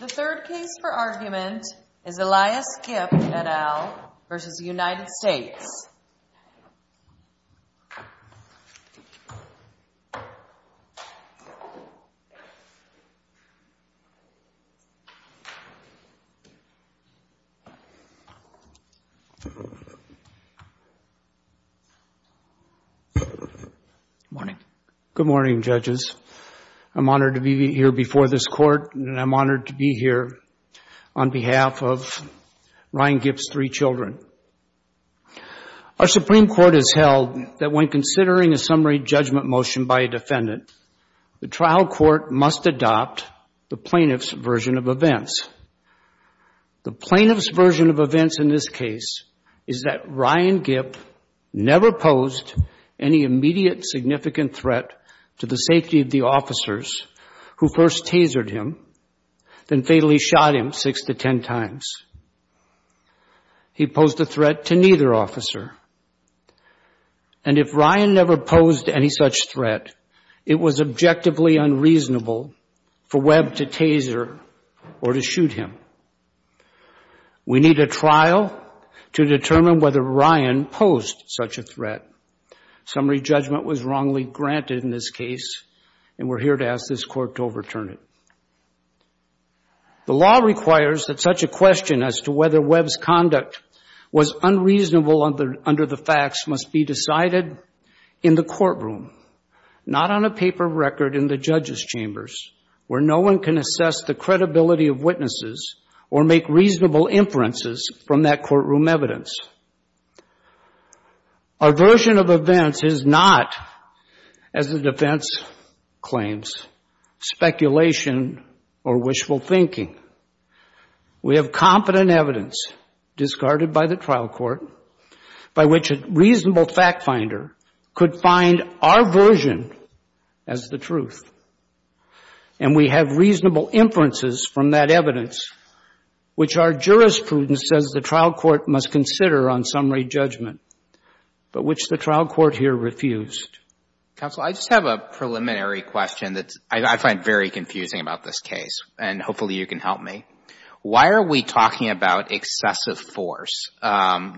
The third case for argument is Elias Gipp, et al. v. United States. Good morning, judges. I'm honored to be here before this court and I'm honored to be here on behalf of Ryan Gipp's three children. Our Supreme Court has held that when considering a summary judgment motion by a defendant, the trial court must adopt the plaintiff's version of events. The plaintiff's version of events in this case is that Ryan Gipp never posed any immediate significant threat to the safety of the officers who first tasered him, then fatally shot him six to ten times. He posed a threat to neither officer. And if Ryan never posed any such threat, it was objectively unreasonable for Webb to taser or to shoot him. We need a trial to determine whether Ryan posed such a threat. Summary judgment was wrongly granted in this case and we're here to ask this court to overturn it. The law requires that such a question as to whether Webb's conduct was unreasonable under the facts must be decided in the courtroom, not on a paper record in the judge's chambers where no one can assess the credibility of witnesses or make reasonable inferences from that courtroom evidence. A version of events is not, as the defense claims, speculation or wishful thinking. We have competent evidence discarded by the trial court by which a reasonable fact finder could find our version as the truth. And we have reasonable inferences from that evidence which our jurisprudence says the trial court must consider on summary judgment, but which the trial court here refused. Counsel, I just have a preliminary question that I find very confusing about this case and hopefully you can help me. Why are we talking about excessive force?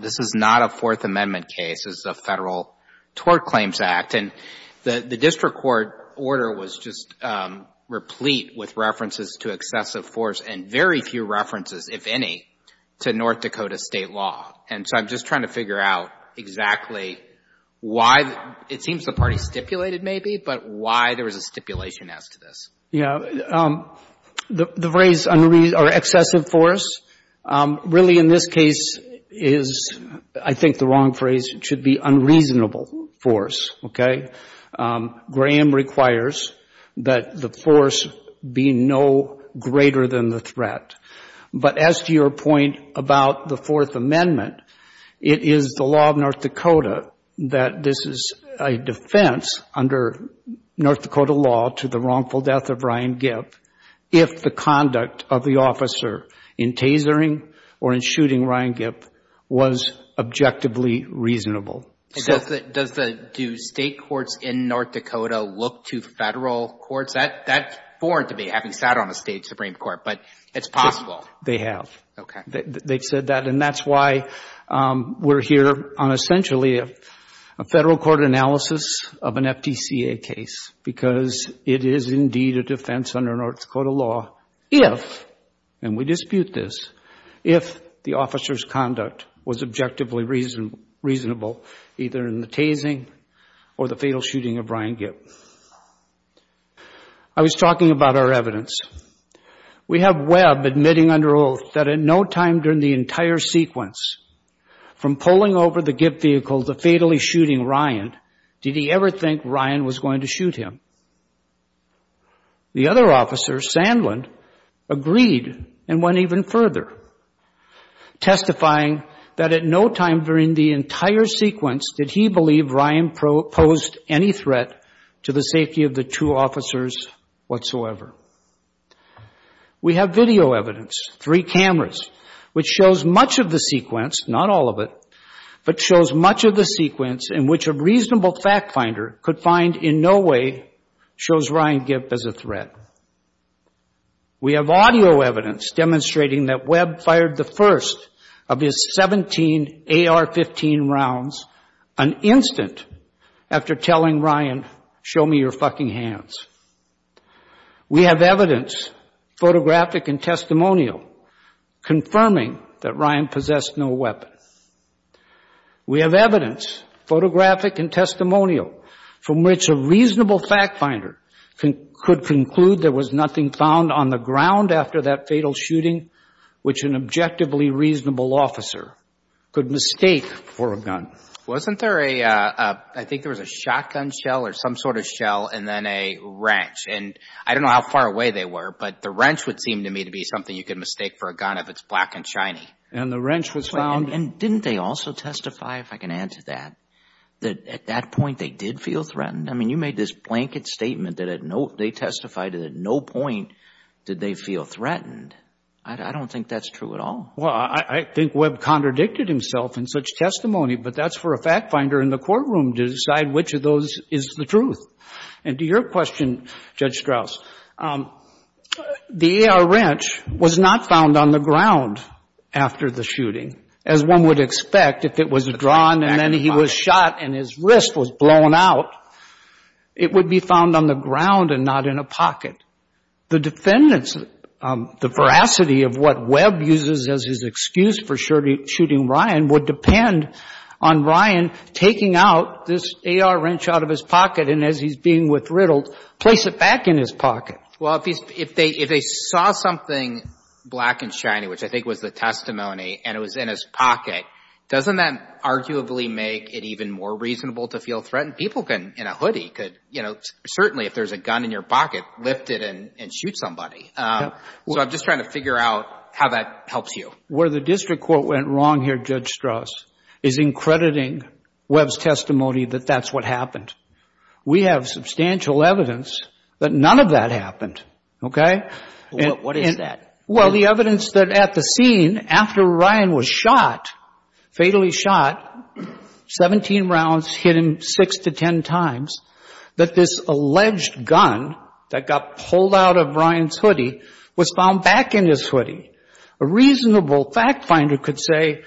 This is not a Fourth Amendment case. This is a Federal Tort Claims Act and the district court order was just replete with references to excessive force and very few references, if any, to North Dakota State law. And so I'm just trying to figure out exactly why the — it seems the party stipulated maybe, but why there was a stipulation as to this. Yeah. The phrase excessive force really in this case is, I think, the wrong phrase. It should be unreasonable force, okay? Graham requires that the force be no greater than the threat. But as to your point about the Fourth Amendment, it is the law of North Dakota that this is a defense under North Dakota law to the wrongful death of Ryan Giff if the conduct of the officer in tasering or in shooting Ryan Giff was objectively reasonable. And does the — do state courts in North Dakota look to Federal courts? That's foreign to me, having sat on a State Supreme Court, but it's possible. They have. Okay. They've said that and that's why we're here on essentially a Federal court analysis of an FDCA case because it is indeed a defense under North Dakota law if — and we dispute this — if the officer's conduct was objectively reasonable either in the tasering or the fatal shooting of Ryan Giff. I was talking about our evidence. We have Webb admitting under oath that in no time during the entire sequence from pulling over the Giff vehicle to fatally shooting Ryan, did he ever think Ryan was going to shoot him. The other officer, Sandland, agreed and went even further, testifying that at no time during the entire sequence did he believe Ryan posed any threat to the safety of the two officers whatsoever. We have video evidence, three cameras, which shows much of the sequence — not all of it — but shows much of the sequence in which a reasonable fact finder could find in no way shows Ryan Giff as a threat. We have audio evidence demonstrating that Webb fired the first of his 17 AR-15 rounds an instant after telling Ryan, show me your fucking hands. We have evidence, photographic and testimonial, confirming that Ryan possessed no weapon. We have evidence, photographic and testimonial, from which a reasonable fact finder could conclude there was nothing found on the ground after that fatal shooting which an objectively reasonable officer could mistake for a gun. Wasn't there a — I think there was a shotgun shell or some sort of shell and then a wrench and I don't know how far away they were, but the wrench would seem to me to be something you could mistake for a gun if it's black and shiny. And the wrench was found — And didn't they also testify, if I can add to that, that at that point they did feel threatened? I mean, you made this blanket statement that they testified that at no point did they feel threatened. I don't think that's true at all. Well, I think Webb contradicted himself in such testimony, but that's for a fact finder in the courtroom to decide which of those is the truth. And to your question, Judge Strauss, the AR wrench was not found on the ground after the shooting. As one would expect, if it was drawn and then he was shot and his wrist was blown out, it would be found on the ground and not in a pocket. The defendants, the veracity of what Webb uses as his excuse for shooting Ryan would depend on Ryan taking out this AR wrench out of his pocket and, as he's being withriddled, place it back in his pocket. Well, if they saw something black and shiny, which I think was the testimony, and it was in his pocket, doesn't that arguably make it even more reasonable to feel threatened? People can, in a hoodie, could, you know, certainly if there's a gun in your pocket, lift it and shoot somebody. So I'm just trying to figure out how that helps you. Where the district court went wrong here, Judge Strauss, is in crediting Webb's testimony that that's what happened. We have substantial evidence that none of that happened, okay? What is that? Well, the evidence that at the scene, after Ryan was shot, fatally shot, 17 rounds hit him 6 to 10 times, that this alleged gun that got pulled out of Ryan's hoodie was found back in his hoodie. A reasonable fact finder could say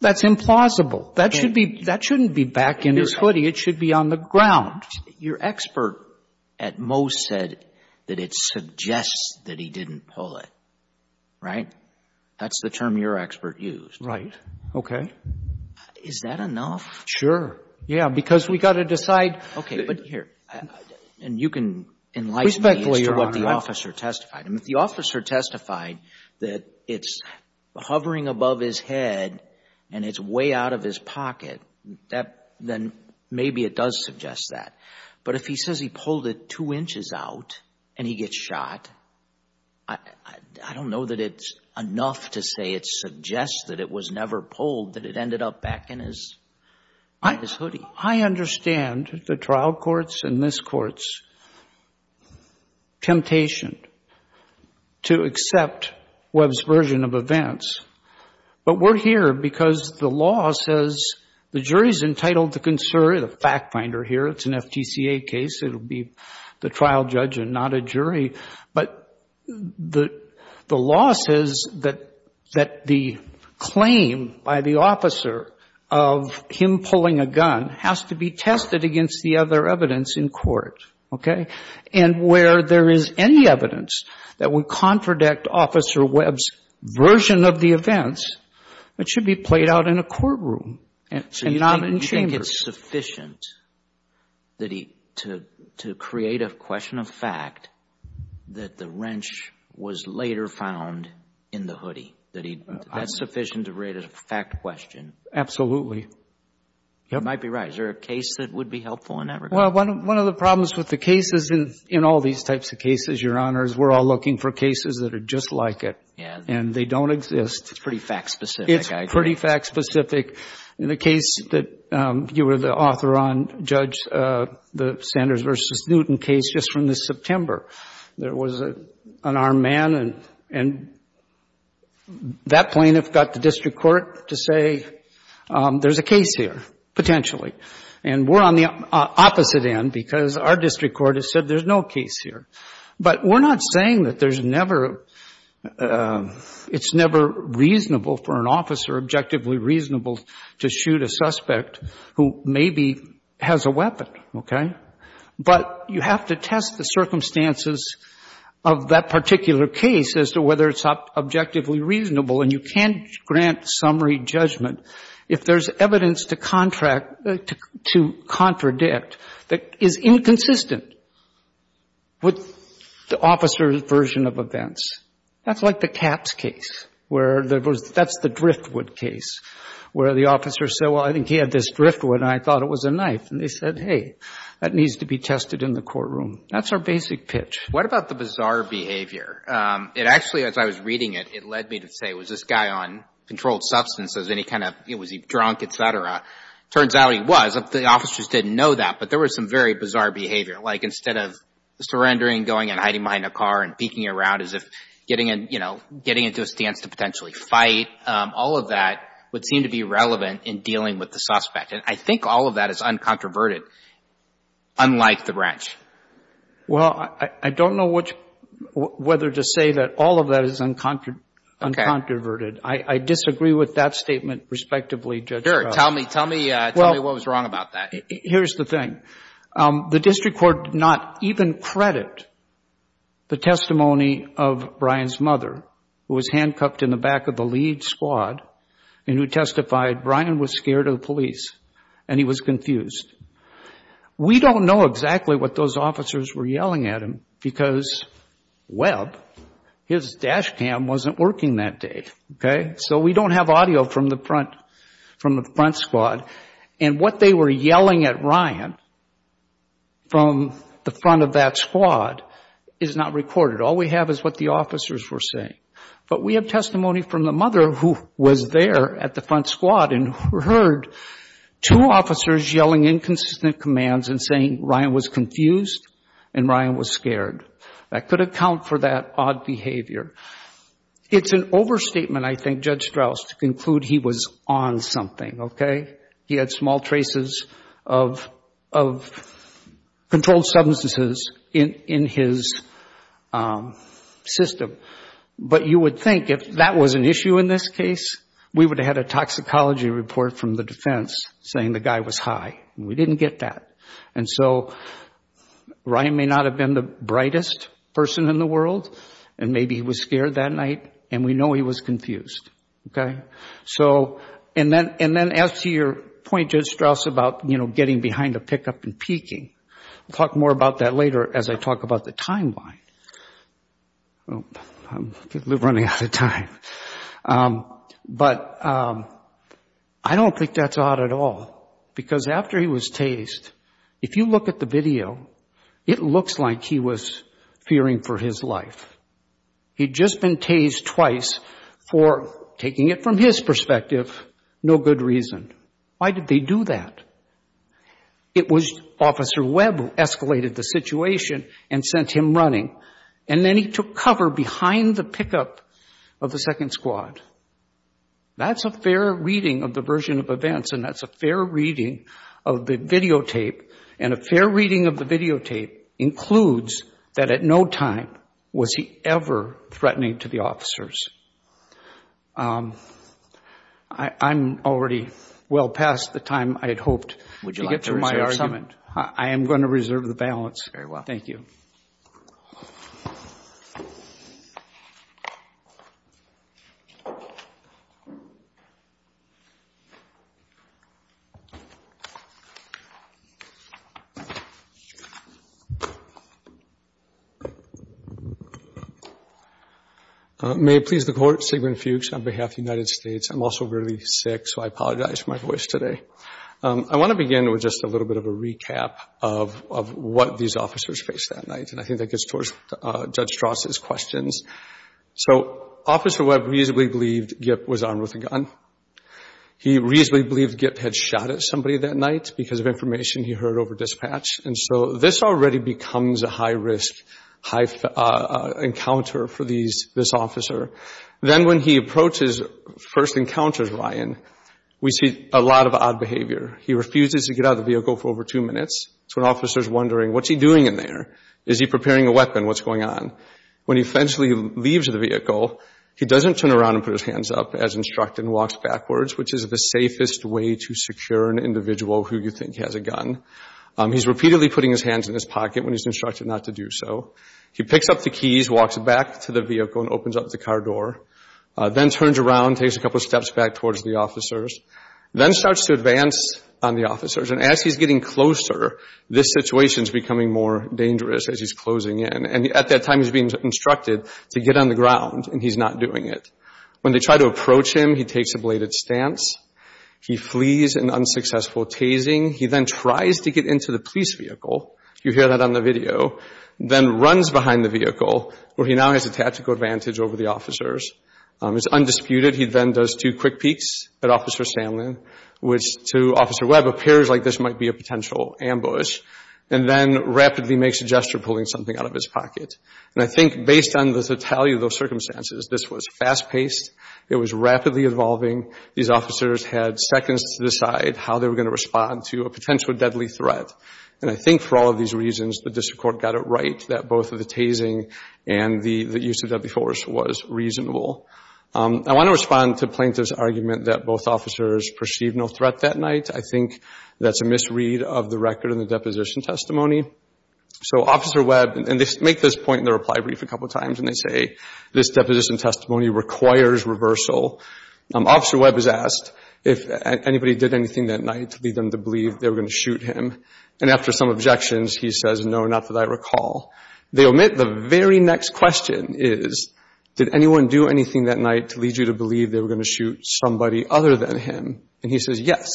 that's implausible. That shouldn't be back in his hoodie. It should be on the ground. Your expert at most said that it suggests that he didn't pull it, right? That's the term your expert used. Right. Okay. Is that enough? Sure. Yeah, because we've got to decide. Okay. But here. And you can enlighten me as to what the officer testified. If the officer testified that it's hovering above his head and it's way out of his pocket, then maybe it does suggest that. But if he says he pulled it two inches out and he gets shot, I don't know that it's enough to say it suggests that it was never pulled, that it ended up back in his hoodie. I understand the trial court's and this court's temptation to accept Webb's version of events. But we're here because the law says the jury's entitled to consider, the fact finder here, it's an FTCA case, it'll be the trial judge and not a jury. But the law says that the claim by the officer of him pulling a gun has to be tested against the other evidence in court, okay? And where there is any evidence that would contradict Officer Webb's version of the events, it should be played out in a courtroom and not in chambers. Is it sufficient that he, to create a question of fact, that the wrench was later found in the hoodie? That's sufficient to rate it a fact question? Absolutely. You might be right. Is there a case that would be helpful in that regard? Well, one of the problems with the cases, in all these types of cases, Your Honors, we're all looking for cases that are just like it. And they don't exist. It's pretty fact specific. It's pretty fact specific. In the case that you were the author on, Judge, the Sanders versus Newton case, just from this September, there was an armed man and that plaintiff got the district court to say, there's a case here, potentially. And we're on the opposite end because our district court has said there's no case here. But we're not saying that there's never, it's never reasonable for an officer, objectively reasonable, to shoot a suspect who maybe has a weapon. Okay? But you have to test the circumstances of that particular case as to whether it's objectively reasonable. And you can't grant summary judgment if there's evidence to contradict that is inconsistent with the officer's version of events. That's like the Capps case where there was, that's the Driftwood case, where the officer said, well, I think he had this Driftwood and I thought it was a knife. And they said, hey, that needs to be tested in the courtroom. That's our basic pitch. What about the bizarre behavior? It actually, as I was reading it, it led me to say, was this guy on controlled substances? Any kind of, was he drunk, et cetera? Turns out he was. The officers didn't know that, but there was some very bizarre behavior. Like instead of surrendering, going and hiding behind a car and peeking around as if getting in, you know, getting into a stance to potentially fight, all of that would seem to be relevant in dealing with the suspect. And I think all of that is uncontroverted, unlike the wrench. Well, I don't know which, whether to say that all of that is uncontroverted. I disagree with that statement, respectively, Judge. Sure. Tell me, tell me, tell me what was wrong about that. Here's the thing. The district court did not even credit the testimony of Brian's mother, who was handcuffed in the back of the lead squad and who testified Brian was scared of police and he was confused. We don't know exactly what those officers were yelling at him because, well, his dash cam wasn't working that day, okay? So we don't have audio from the front squad. And what they were yelling at Brian from the front of that squad is not recorded. All we have is what the officers were saying. But we have testimony from the mother who was there at the front squad and heard two officers yelling inconsistent commands and saying Brian was confused and Brian was scared. That could account for that odd behavior. It's an overstatement, I think, Judge Strauss, to conclude he was on something, okay? He had small traces of controlled substances in his system. But you would think if that was an issue in this case, we would have had a toxicology report from the defense saying the guy was high. We didn't get that. And so Brian may not have been the brightest person in the world and maybe he was scared that night and we know he was confused, okay? So and then as to your point, Judge Strauss, about, you know, getting behind the pickup and peeking. We'll talk more about that later as I talk about the timeline. I'm running out of time. But I don't think that's odd at all because after he was tased, if you look at the video, it looks like he was fearing for his life. He'd just been tased twice for, taking it from his perspective, no good reason. Why did they do that? It was Officer Webb who escalated the situation and sent him running. And then he took cover behind the pickup of the second squad. That's a fair reading of the version of events and that's a fair reading of the videotape. And a fair reading of the videotape includes that at no time was he ever threatening to the officers. I'm already well past the time I had hoped to get to my argument. I am going to reserve the balance. Thanks very much. May it please the Court, Sigmund Fuchs on behalf of the United States. I'm also really sick so I apologize for my voice today. I want to begin with just a little bit of a recap of what these officers faced that night. And I think that gets towards Judge Strauss' questions. So Officer Webb reasonably believed Gip was armed with a gun. He reasonably believed Gip had shot at somebody that night because of information he heard over dispatch. And so this already becomes a high-risk, high-encounter for this officer. Then when he approaches, first encounters Ryan, we see a lot of odd behavior. He refuses to get out of the vehicle for over two minutes. So an officer is wondering, what's he doing in there? Is he preparing a weapon? What's going on? When he eventually leaves the vehicle, he doesn't turn around and put his hands up as instructed and walks backwards, which is the safest way to secure an individual who you think has a gun. He's repeatedly putting his hands in his pocket when he's instructed not to do so. He picks up the keys, walks back to the vehicle, and opens up the car door. Then turns around, takes a couple steps back towards the officers, then starts to advance on the officers. And as he's getting closer, this situation is becoming more dangerous as he's closing in. And at that time, he's being instructed to get on the ground, and he's not doing it. When they try to approach him, he takes a bladed stance. He flees in unsuccessful tasing. He then tries to get into the police vehicle. You hear that on the video. Then runs behind the vehicle, where he now has a tactical advantage over the officers. It's undisputed. He then does two quick peeks at Officer Sandlin, which to Officer Webb, appears like this might be a potential ambush, and then rapidly makes a gesture, pulling something out of his pocket. And I think based on the totality of those circumstances, this was fast-paced. It was rapidly evolving. These officers had seconds to decide how they were going to respond to a potential deadly threat. And I think for all of these reasons, the district court got it right that both of the tasing and the use of deadly force was reasonable. I want to respond to plaintiff's argument that both officers perceived no threat that night. I think that's a misread of the record in the deposition testimony. So Officer Webb, and they make this point in the reply brief a couple times, and they say, this deposition testimony requires reversal. Officer Webb is asked if anybody did anything that night to lead them to believe they were going to shoot him. And after some objections, he says, no, not that I recall. They omit the very next question is, did anyone do anything that night to lead you to believe they were going to shoot somebody other than him? And he says, yes.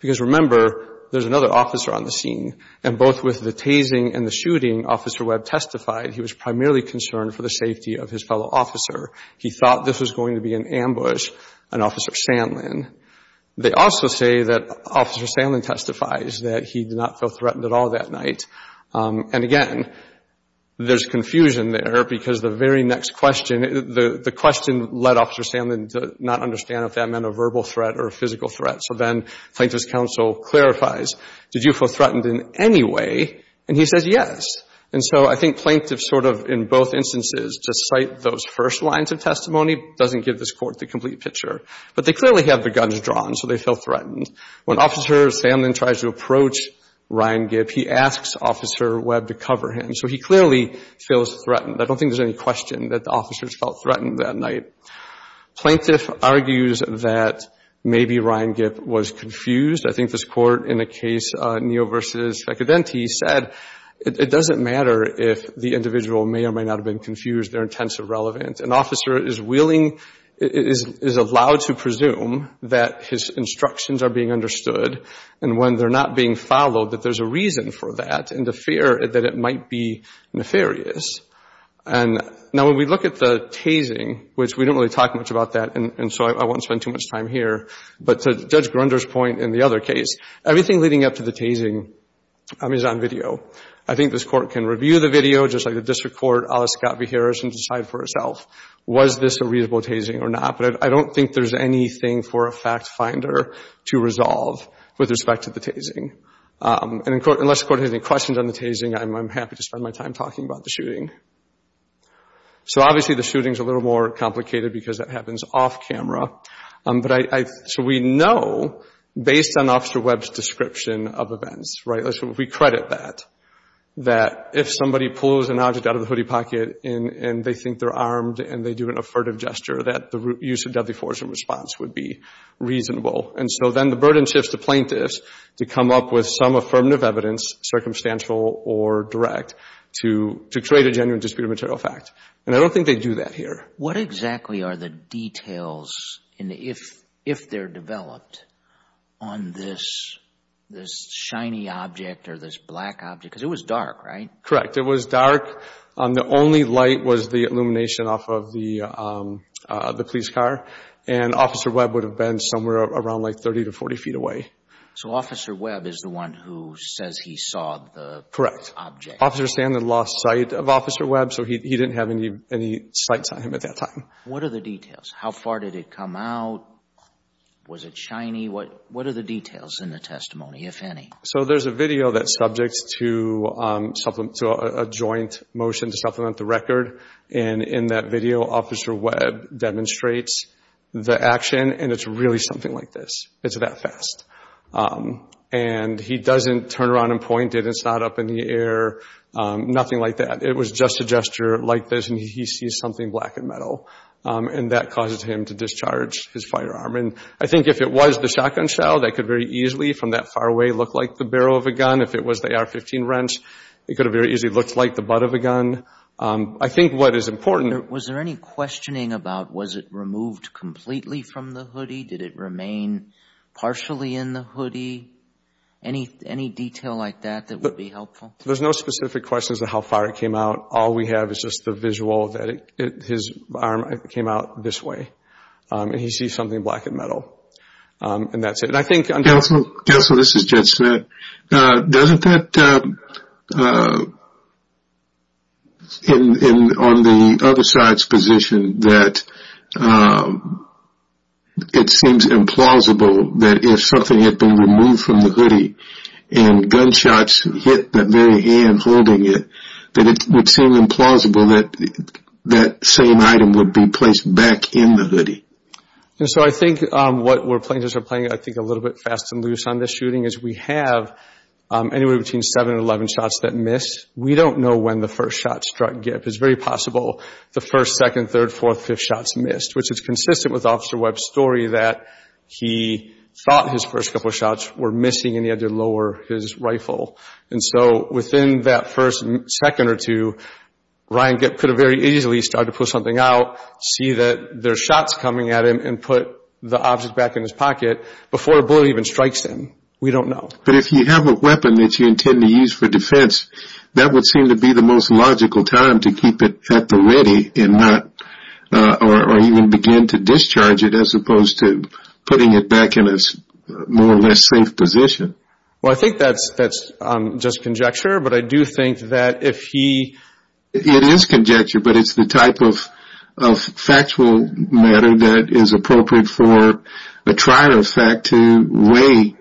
Because remember, there's another officer on the scene. And both with the tasing and the shooting, Officer Webb testified he was primarily concerned for the safety of his fellow officer. He thought this was going to be an ambush on Officer Sandlin. They also say that Officer Sandlin testifies that he did not feel threatened at all that night. And again, there's confusion there because the very next question, the question led Officer Sandlin to not understand if that meant a verbal threat or a physical threat. So then plaintiff's counsel clarifies, did you feel threatened in any way? And he says, yes. And so I think plaintiffs sort of, in both instances, to cite those first lines of testimony doesn't give this Court the complete picture. But they clearly have the guns drawn, so they feel threatened. When Officer Sandlin tries to approach Ryan Gipp, he asks Officer Webb to cover him. So he clearly feels threatened. I don't think there's any question that the officers felt threatened that night. Plaintiff argues that maybe Ryan Gipp was confused. I think this Court, in a case, Neal v. Fecadenti, said it doesn't matter if the individual may or may not have been confused. They're intensely relevant. An officer is willing, is allowed to presume that his instructions are being understood. And when they're not being followed, that there's a reason for that and the fear that it might be nefarious. And now when we look at the tasing, which we don't really talk much about that, and so I won't spend too much time here, but to Judge Grunder's point in the other case, everything leading up to the tasing is on video. I think this Court can review the video, just like the district court, a la Scott v. Harris, and decide for itself, was this a reasonable tasing or not? But I don't think there's anything for a fact finder to resolve with respect to the tasing. And unless the Court has any questions on the tasing, I'm happy to spend my time talking about the shooting. So obviously the shooting is a little more complicated because it happens off camera. So we know, based on Officer Webb's description of events, right, we credit that, that if somebody pulls an object out of the hoodie pocket and they think they're armed and they do an affirmative gesture, that the use of deadly force in response would be reasonable. And so then the burden shifts to plaintiffs to come up with some affirmative evidence, circumstantial or direct, to create a genuine disputed material fact. And I don't think they do that here. What exactly are the details, if they're developed, on this shiny object or this black object? Because it was dark, right? Correct. It was dark. The only light was the illumination off of the police car. And Officer Webb would have been somewhere around like 30 to 40 feet away. So Officer Webb is the one who says he saw the object? Officer Sandin lost sight of Officer Webb, so he didn't have any sights on him at that time. What are the details? How far did it come out? Was it shiny? What are the details in the testimony, if any? So there's a video that's subject to a joint motion to supplement the record. And in that video, Officer Webb demonstrates the action, and it's really something like this. It's that fast. And he doesn't turn around and point it. It's not up in the air. Nothing like that. It was just a gesture like this, and he sees something black and metal. And that causes him to discharge his firearm. And I think if it was the shotgun shell, that could very easily, from that far away, look like the barrel of a gun. If it was the AR-15 wrench, it could have very easily looked like the butt of a gun. I think what is important... Was there any questioning about was it removed completely from the hoodie? Did it remain partially in the hoodie? Any detail like that that would be helpful? There's no specific question as to how far it came out. All we have is just the visual that his arm came out this way, and he sees something black and metal. And that's it. Counselor, this is Jed Smith. Doesn't that, on the other side's position, that it seems implausible that if something had been removed from the hoodie, and gunshots hit that very hand holding it, that it would seem implausible that that same item would be placed back in the hoodie? So I think what we're playing, I think a little bit fast and loose on this shooting, is we have anywhere between 7 and 11 shots that missed. We don't know when the first shot struck Gip. It's very possible the first, second, third, fourth, fifth shots missed, which is consistent with Officer Webb's story that he thought his first couple of shots were missing and he had to lower his rifle. And so within that first second or two, Ryan Gip could have very easily started to pull something out, see that there's shots coming at him, and put the object back in his pocket before a bullet even strikes him. We don't know. But if you have a weapon that you intend to use for defense, that would seem to be the most logical time to keep it at the ready and not, or even begin to discharge it as opposed to putting it back in a more or less safe position? Well, I think that's just conjecture, but I do think that if he... It is conjecture, but it's the type of factual matter that is appropriate for a trial effect to weigh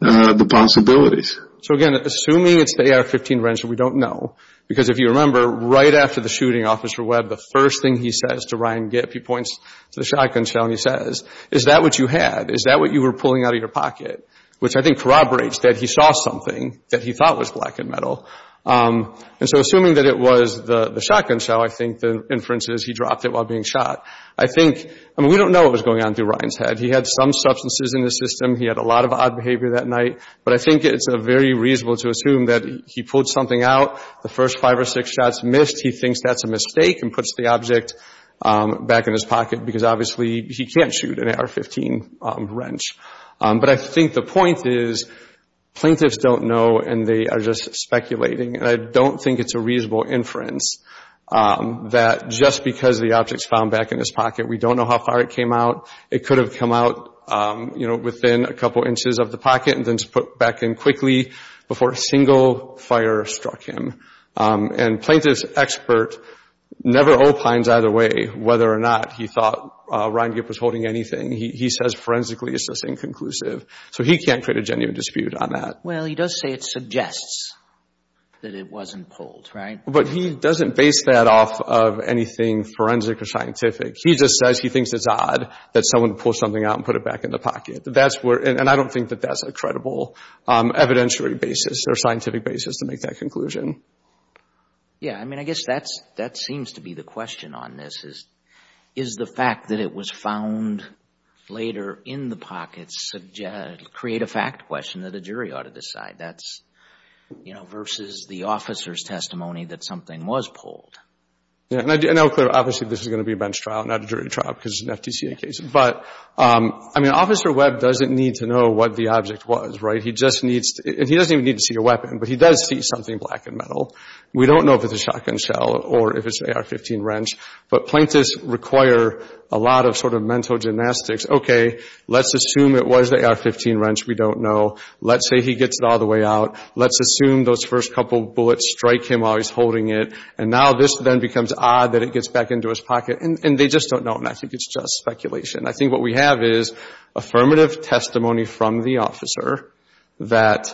the possibilities. So again, assuming it's the AR-15 wrench, we don't know. Because if you remember, right after the shooting, Officer Webb, the first thing he says to Ryan Gip, he points to the shotgun shell and he says, is that what you had? Is that what you were pulling out of your pocket? Which I think corroborates that he saw something that he thought was black and metal. And so assuming that it was the shotgun shell, I think the inference is he dropped it while being shot. I think... I mean, we don't know what was going on through Ryan's head. He had some substances in his system. He had a lot of odd behavior that night. But I think it's very reasonable to assume that he pulled something out, the first five or six shots missed, he thinks that's a mistake and puts the object back in his pocket because obviously he can't shoot an AR-15 wrench. But I think the point is, plaintiffs don't know and they are just speculating and I don't think it's a reasonable inference that just because the object's found back in his pocket, we don't know how far it came out. It could have come out, you know, within a couple inches of the pocket and then put back in quickly before a single fire struck him. And plaintiff's expert never opines either way whether or not he thought Ryan Gip was holding anything. He says forensically, it's just inconclusive. So he can't create a genuine dispute on that. Well, he does say it suggests that it wasn't pulled, right? But he doesn't base that off of anything forensic or scientific. He just says he thinks it's odd that someone would pull something out and put it back in the pocket. That's where... And I don't think that that's a credible evidentiary basis or scientific basis to make that conclusion. Yeah. I mean, I guess that seems to be the question on this is, is the fact that it was found later in the pockets create a fact question that a jury ought to decide? That's, you know, versus the officer's testimony that something was pulled. Yeah. And I'll clear up. Obviously, this is going to be a bench trial, not a jury trial because it's an FTCA case. But I mean, Officer Webb doesn't need to know what the object was, right? He just needs to... And he doesn't even need to see a weapon, but he does see something black and metal. We don't know if it's a shotgun shell or if it's an AR-15 wrench, but plaintiffs require a lot of sort of mental gymnastics. Okay, let's assume it was the AR-15 wrench. We don't know. Let's say he gets it all the way out. Let's assume those first couple bullets strike him while he's holding it. And now this then becomes odd that it gets back into his pocket. And they just don't know. And I think it's just speculation. I think what we have is affirmative testimony from the officer that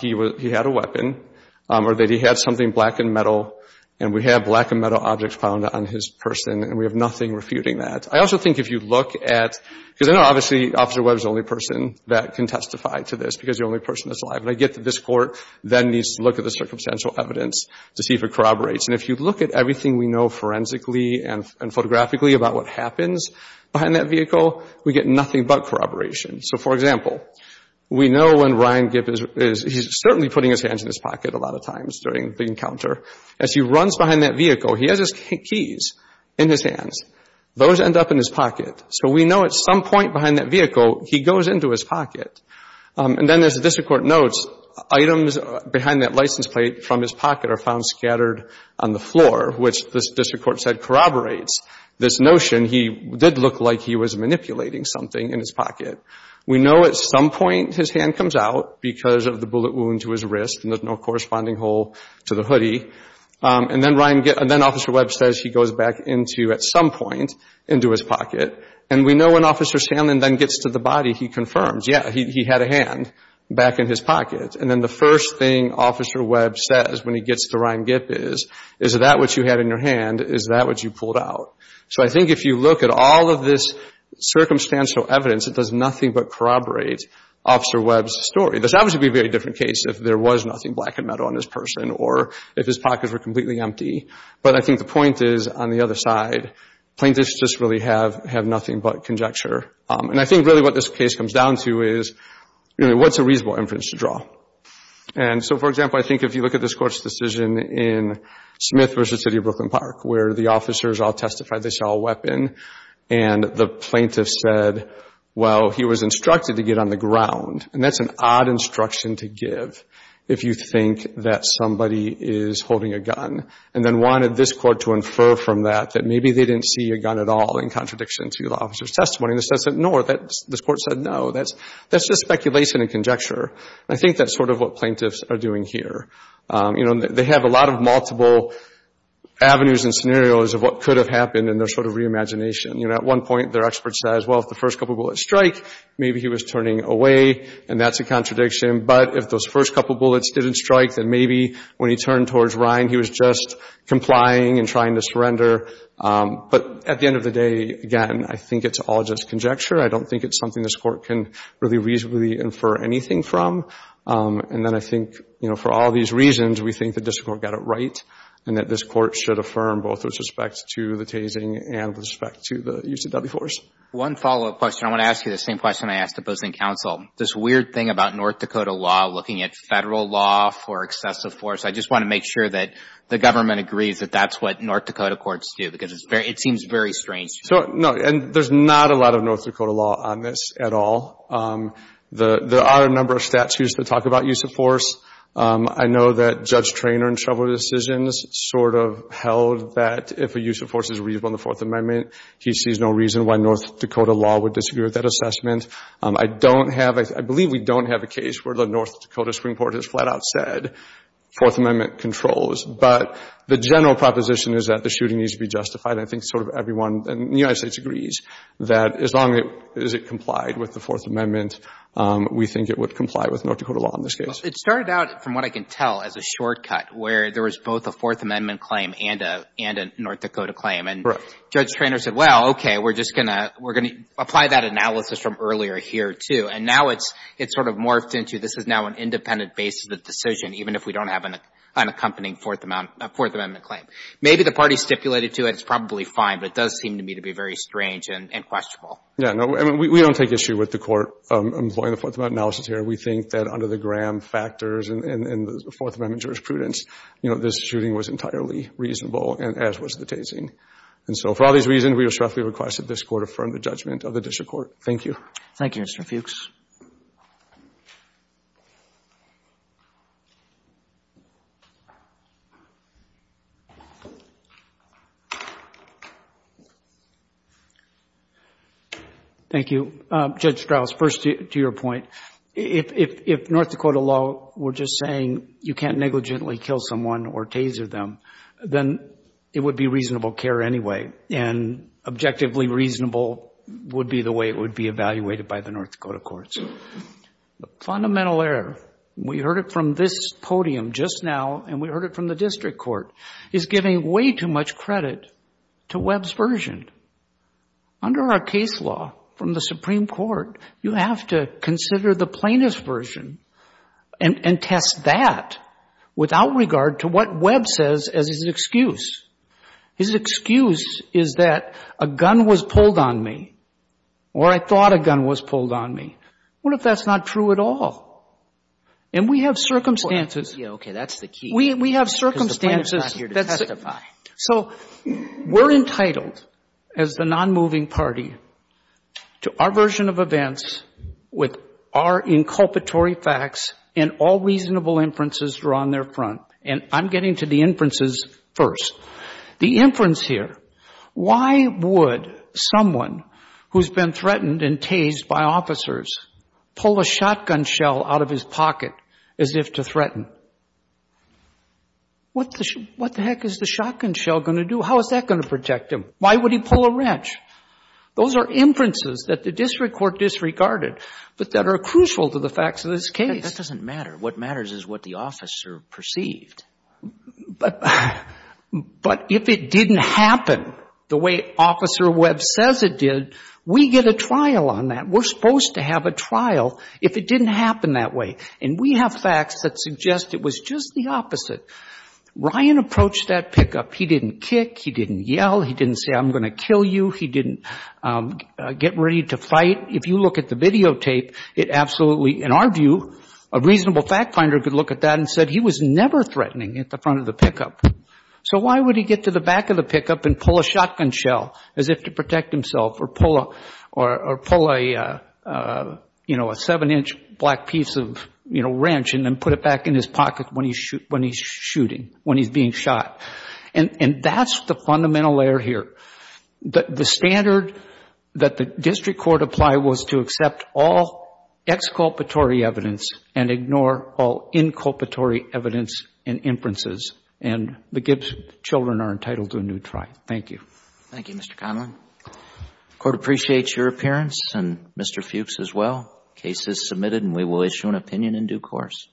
he had a weapon or that he had something black and metal. And we have black and metal objects found on his person, and we have nothing refuting that. I also think if you look at... Because I know, obviously, Officer Webb is the only person that can testify to this because he's the only person that's alive. But I get that this Court then needs to look at the circumstantial evidence to see if it corroborates. And if you look at everything we know forensically and photographically about what happens behind that vehicle, we get nothing but corroboration. So for example, we know when Ryan Gipp is... He's certainly putting his hands in his pocket a lot of times during the encounter. As he runs behind that vehicle, he has his keys in his hands. Those end up in his pocket. So we know at some point behind that vehicle, he goes into his pocket. And then as the District Court notes, items behind that license plate from his pocket are found scattered on the floor, which the District Court said corroborates this notion. He did look like he was manipulating something in his pocket. We know at some point his hand comes out because of the bullet wound to his wrist and there's no corresponding hole to the hoodie. And then Officer Webb says he goes back into, at some point, into his pocket. And we know when Officer Sandlin then gets to the body, he confirms, yeah, he had a hand back in his pocket. And then the first thing Officer Webb says when he gets to Ryan Gipp is, is that what you had in your hand? Is that what you pulled out? So I think if you look at all of this circumstantial evidence, it does nothing but corroborate Officer Webb's story. This would obviously be a very different case if there was nothing black and metal on this person or if his pockets were completely empty. But I think the point is, on the other side, plaintiffs just really have nothing but conjecture. And I think really what this case comes down to is, what's a reasonable inference to draw? And so, for example, I think if you look at this Court's decision in Smith v. City of Memphis to identify this all-weapon, and the plaintiff said, well, he was instructed to get on the ground. And that's an odd instruction to give if you think that somebody is holding a gun. And then wanted this Court to infer from that that maybe they didn't see a gun at all in contradiction to the officer's testimony. And the judge said, no, this Court said, no, that's just speculation and conjecture. I think that's sort of what plaintiffs are doing here. You know, they have a lot of multiple avenues and scenarios of what could have happened in their sort of reimagination. You know, at one point, their expert says, well, if the first couple bullets strike, maybe he was turning away. And that's a contradiction. But if those first couple bullets didn't strike, then maybe when he turned towards Ryan, he was just complying and trying to surrender. But at the end of the day, again, I think it's all just conjecture. I don't think it's something this Court can really reasonably infer anything from. And then I think, you know, for all these reasons, we think the District Court got it right and that this Court should affirm both with respect to the tasing and with respect to the UCW force. One follow-up question. I want to ask you the same question I asked the opposing counsel. This weird thing about North Dakota law, looking at federal law for excessive force, I just want to make sure that the government agrees that that's what North Dakota courts do, because it seems very strange. So, no, and there's not a lot of North Dakota law on this at all. There are a number of statutes that talk about use of force. I know that Judge Treanor in several decisions sort of held that if a use of force is reasonable in the Fourth Amendment, he sees no reason why North Dakota law would disagree with that assessment. I don't have, I believe we don't have a case where the North Dakota Supreme Court has flat out said Fourth Amendment controls. But the general proposition is that the shooting needs to be justified. I think sort of everyone in the United States agrees that as long as it complied with the Fourth Amendment, we think it would comply with North Dakota law in this case. It started out, from what I can tell, as a shortcut where there was both a Fourth Amendment claim and a North Dakota claim. Correct. And Judge Treanor said, well, okay, we're just going to apply that analysis from earlier here too. And now it's sort of morphed into this is now an independent basis of the decision even if we don't have an accompanying Fourth Amendment claim. Maybe the parties stipulated to it, it's probably fine, but it does seem to me to be very strange and questionable. Yeah, no, I mean, we don't take issue with the court employing the Fourth Amendment analysis here. We think that under the Graham factors and the Fourth Amendment jurisprudence, you know, this shooting was entirely reasonable and as was the tasing. And so for all these reasons, we respectfully request that this court affirm the judgment of the district court. Thank you. Thank you, Mr. Fuchs. Thank you. Judge Strauss, first to your point, if North Dakota law were just saying you can't negligently kill someone or taser them, then it would be reasonable care anyway and objectively reasonable would be the way it would be evaluated by the North Dakota courts. The fundamental error, we heard it from this podium just now and we heard it from the district court, is giving way too much credit to Webb's version. Under our case law from the Supreme Court, you have to consider the plaintiff's version and test that without regard to what Webb says as his excuse. His excuse is that a gun was pulled on me or I thought a gun was pulled on me. What if that's not true at all? And we have circumstances. Yeah, okay, that's the key. We have circumstances. Because the plaintiff's not here to testify. So we're entitled as the non-moving party to our version of events with our inculpatory facts and all reasonable inferences drawn there front. And I'm getting to the inferences first. The inference here, why would someone who's been threatened and tased by officers pull a shotgun shell out of his pocket as if to threaten? What the heck is the shotgun shell going to do? How is that going to protect him? Why would he pull a wrench? Those are inferences that the district court disregarded, but that are crucial to the facts of this case. That doesn't matter. What matters is what the officer perceived. But if it didn't happen the way Officer Webb says it did, we get a trial on that. We're supposed to have a trial if it didn't happen that way. And we have facts that suggest it was just the opposite. Ryan approached that pickup. He didn't kick. He didn't yell. He didn't say, I'm going to kill you. He didn't get ready to fight. If you look at the videotape, it absolutely, in our view, a reasonable fact finder could look at that and said he was never threatening at the front of the pickup. So why would he get to the back of the pickup and pull a shotgun shell as if to protect himself or pull a seven-inch black piece of wrench and then put it back in his pocket when he's shooting, when he's being shot? And that's the fundamental error here. The standard that the district court applied was to accept all exculpatory evidence and ignore all inculpatory evidence and inferences. And the Gibbs children are entitled to a new trial. Thank you. Thank you, Mr. Conlon. Court appreciates your appearance, and Mr. Fuchs as well. Case is submitted, and we will issue an opinion in due course.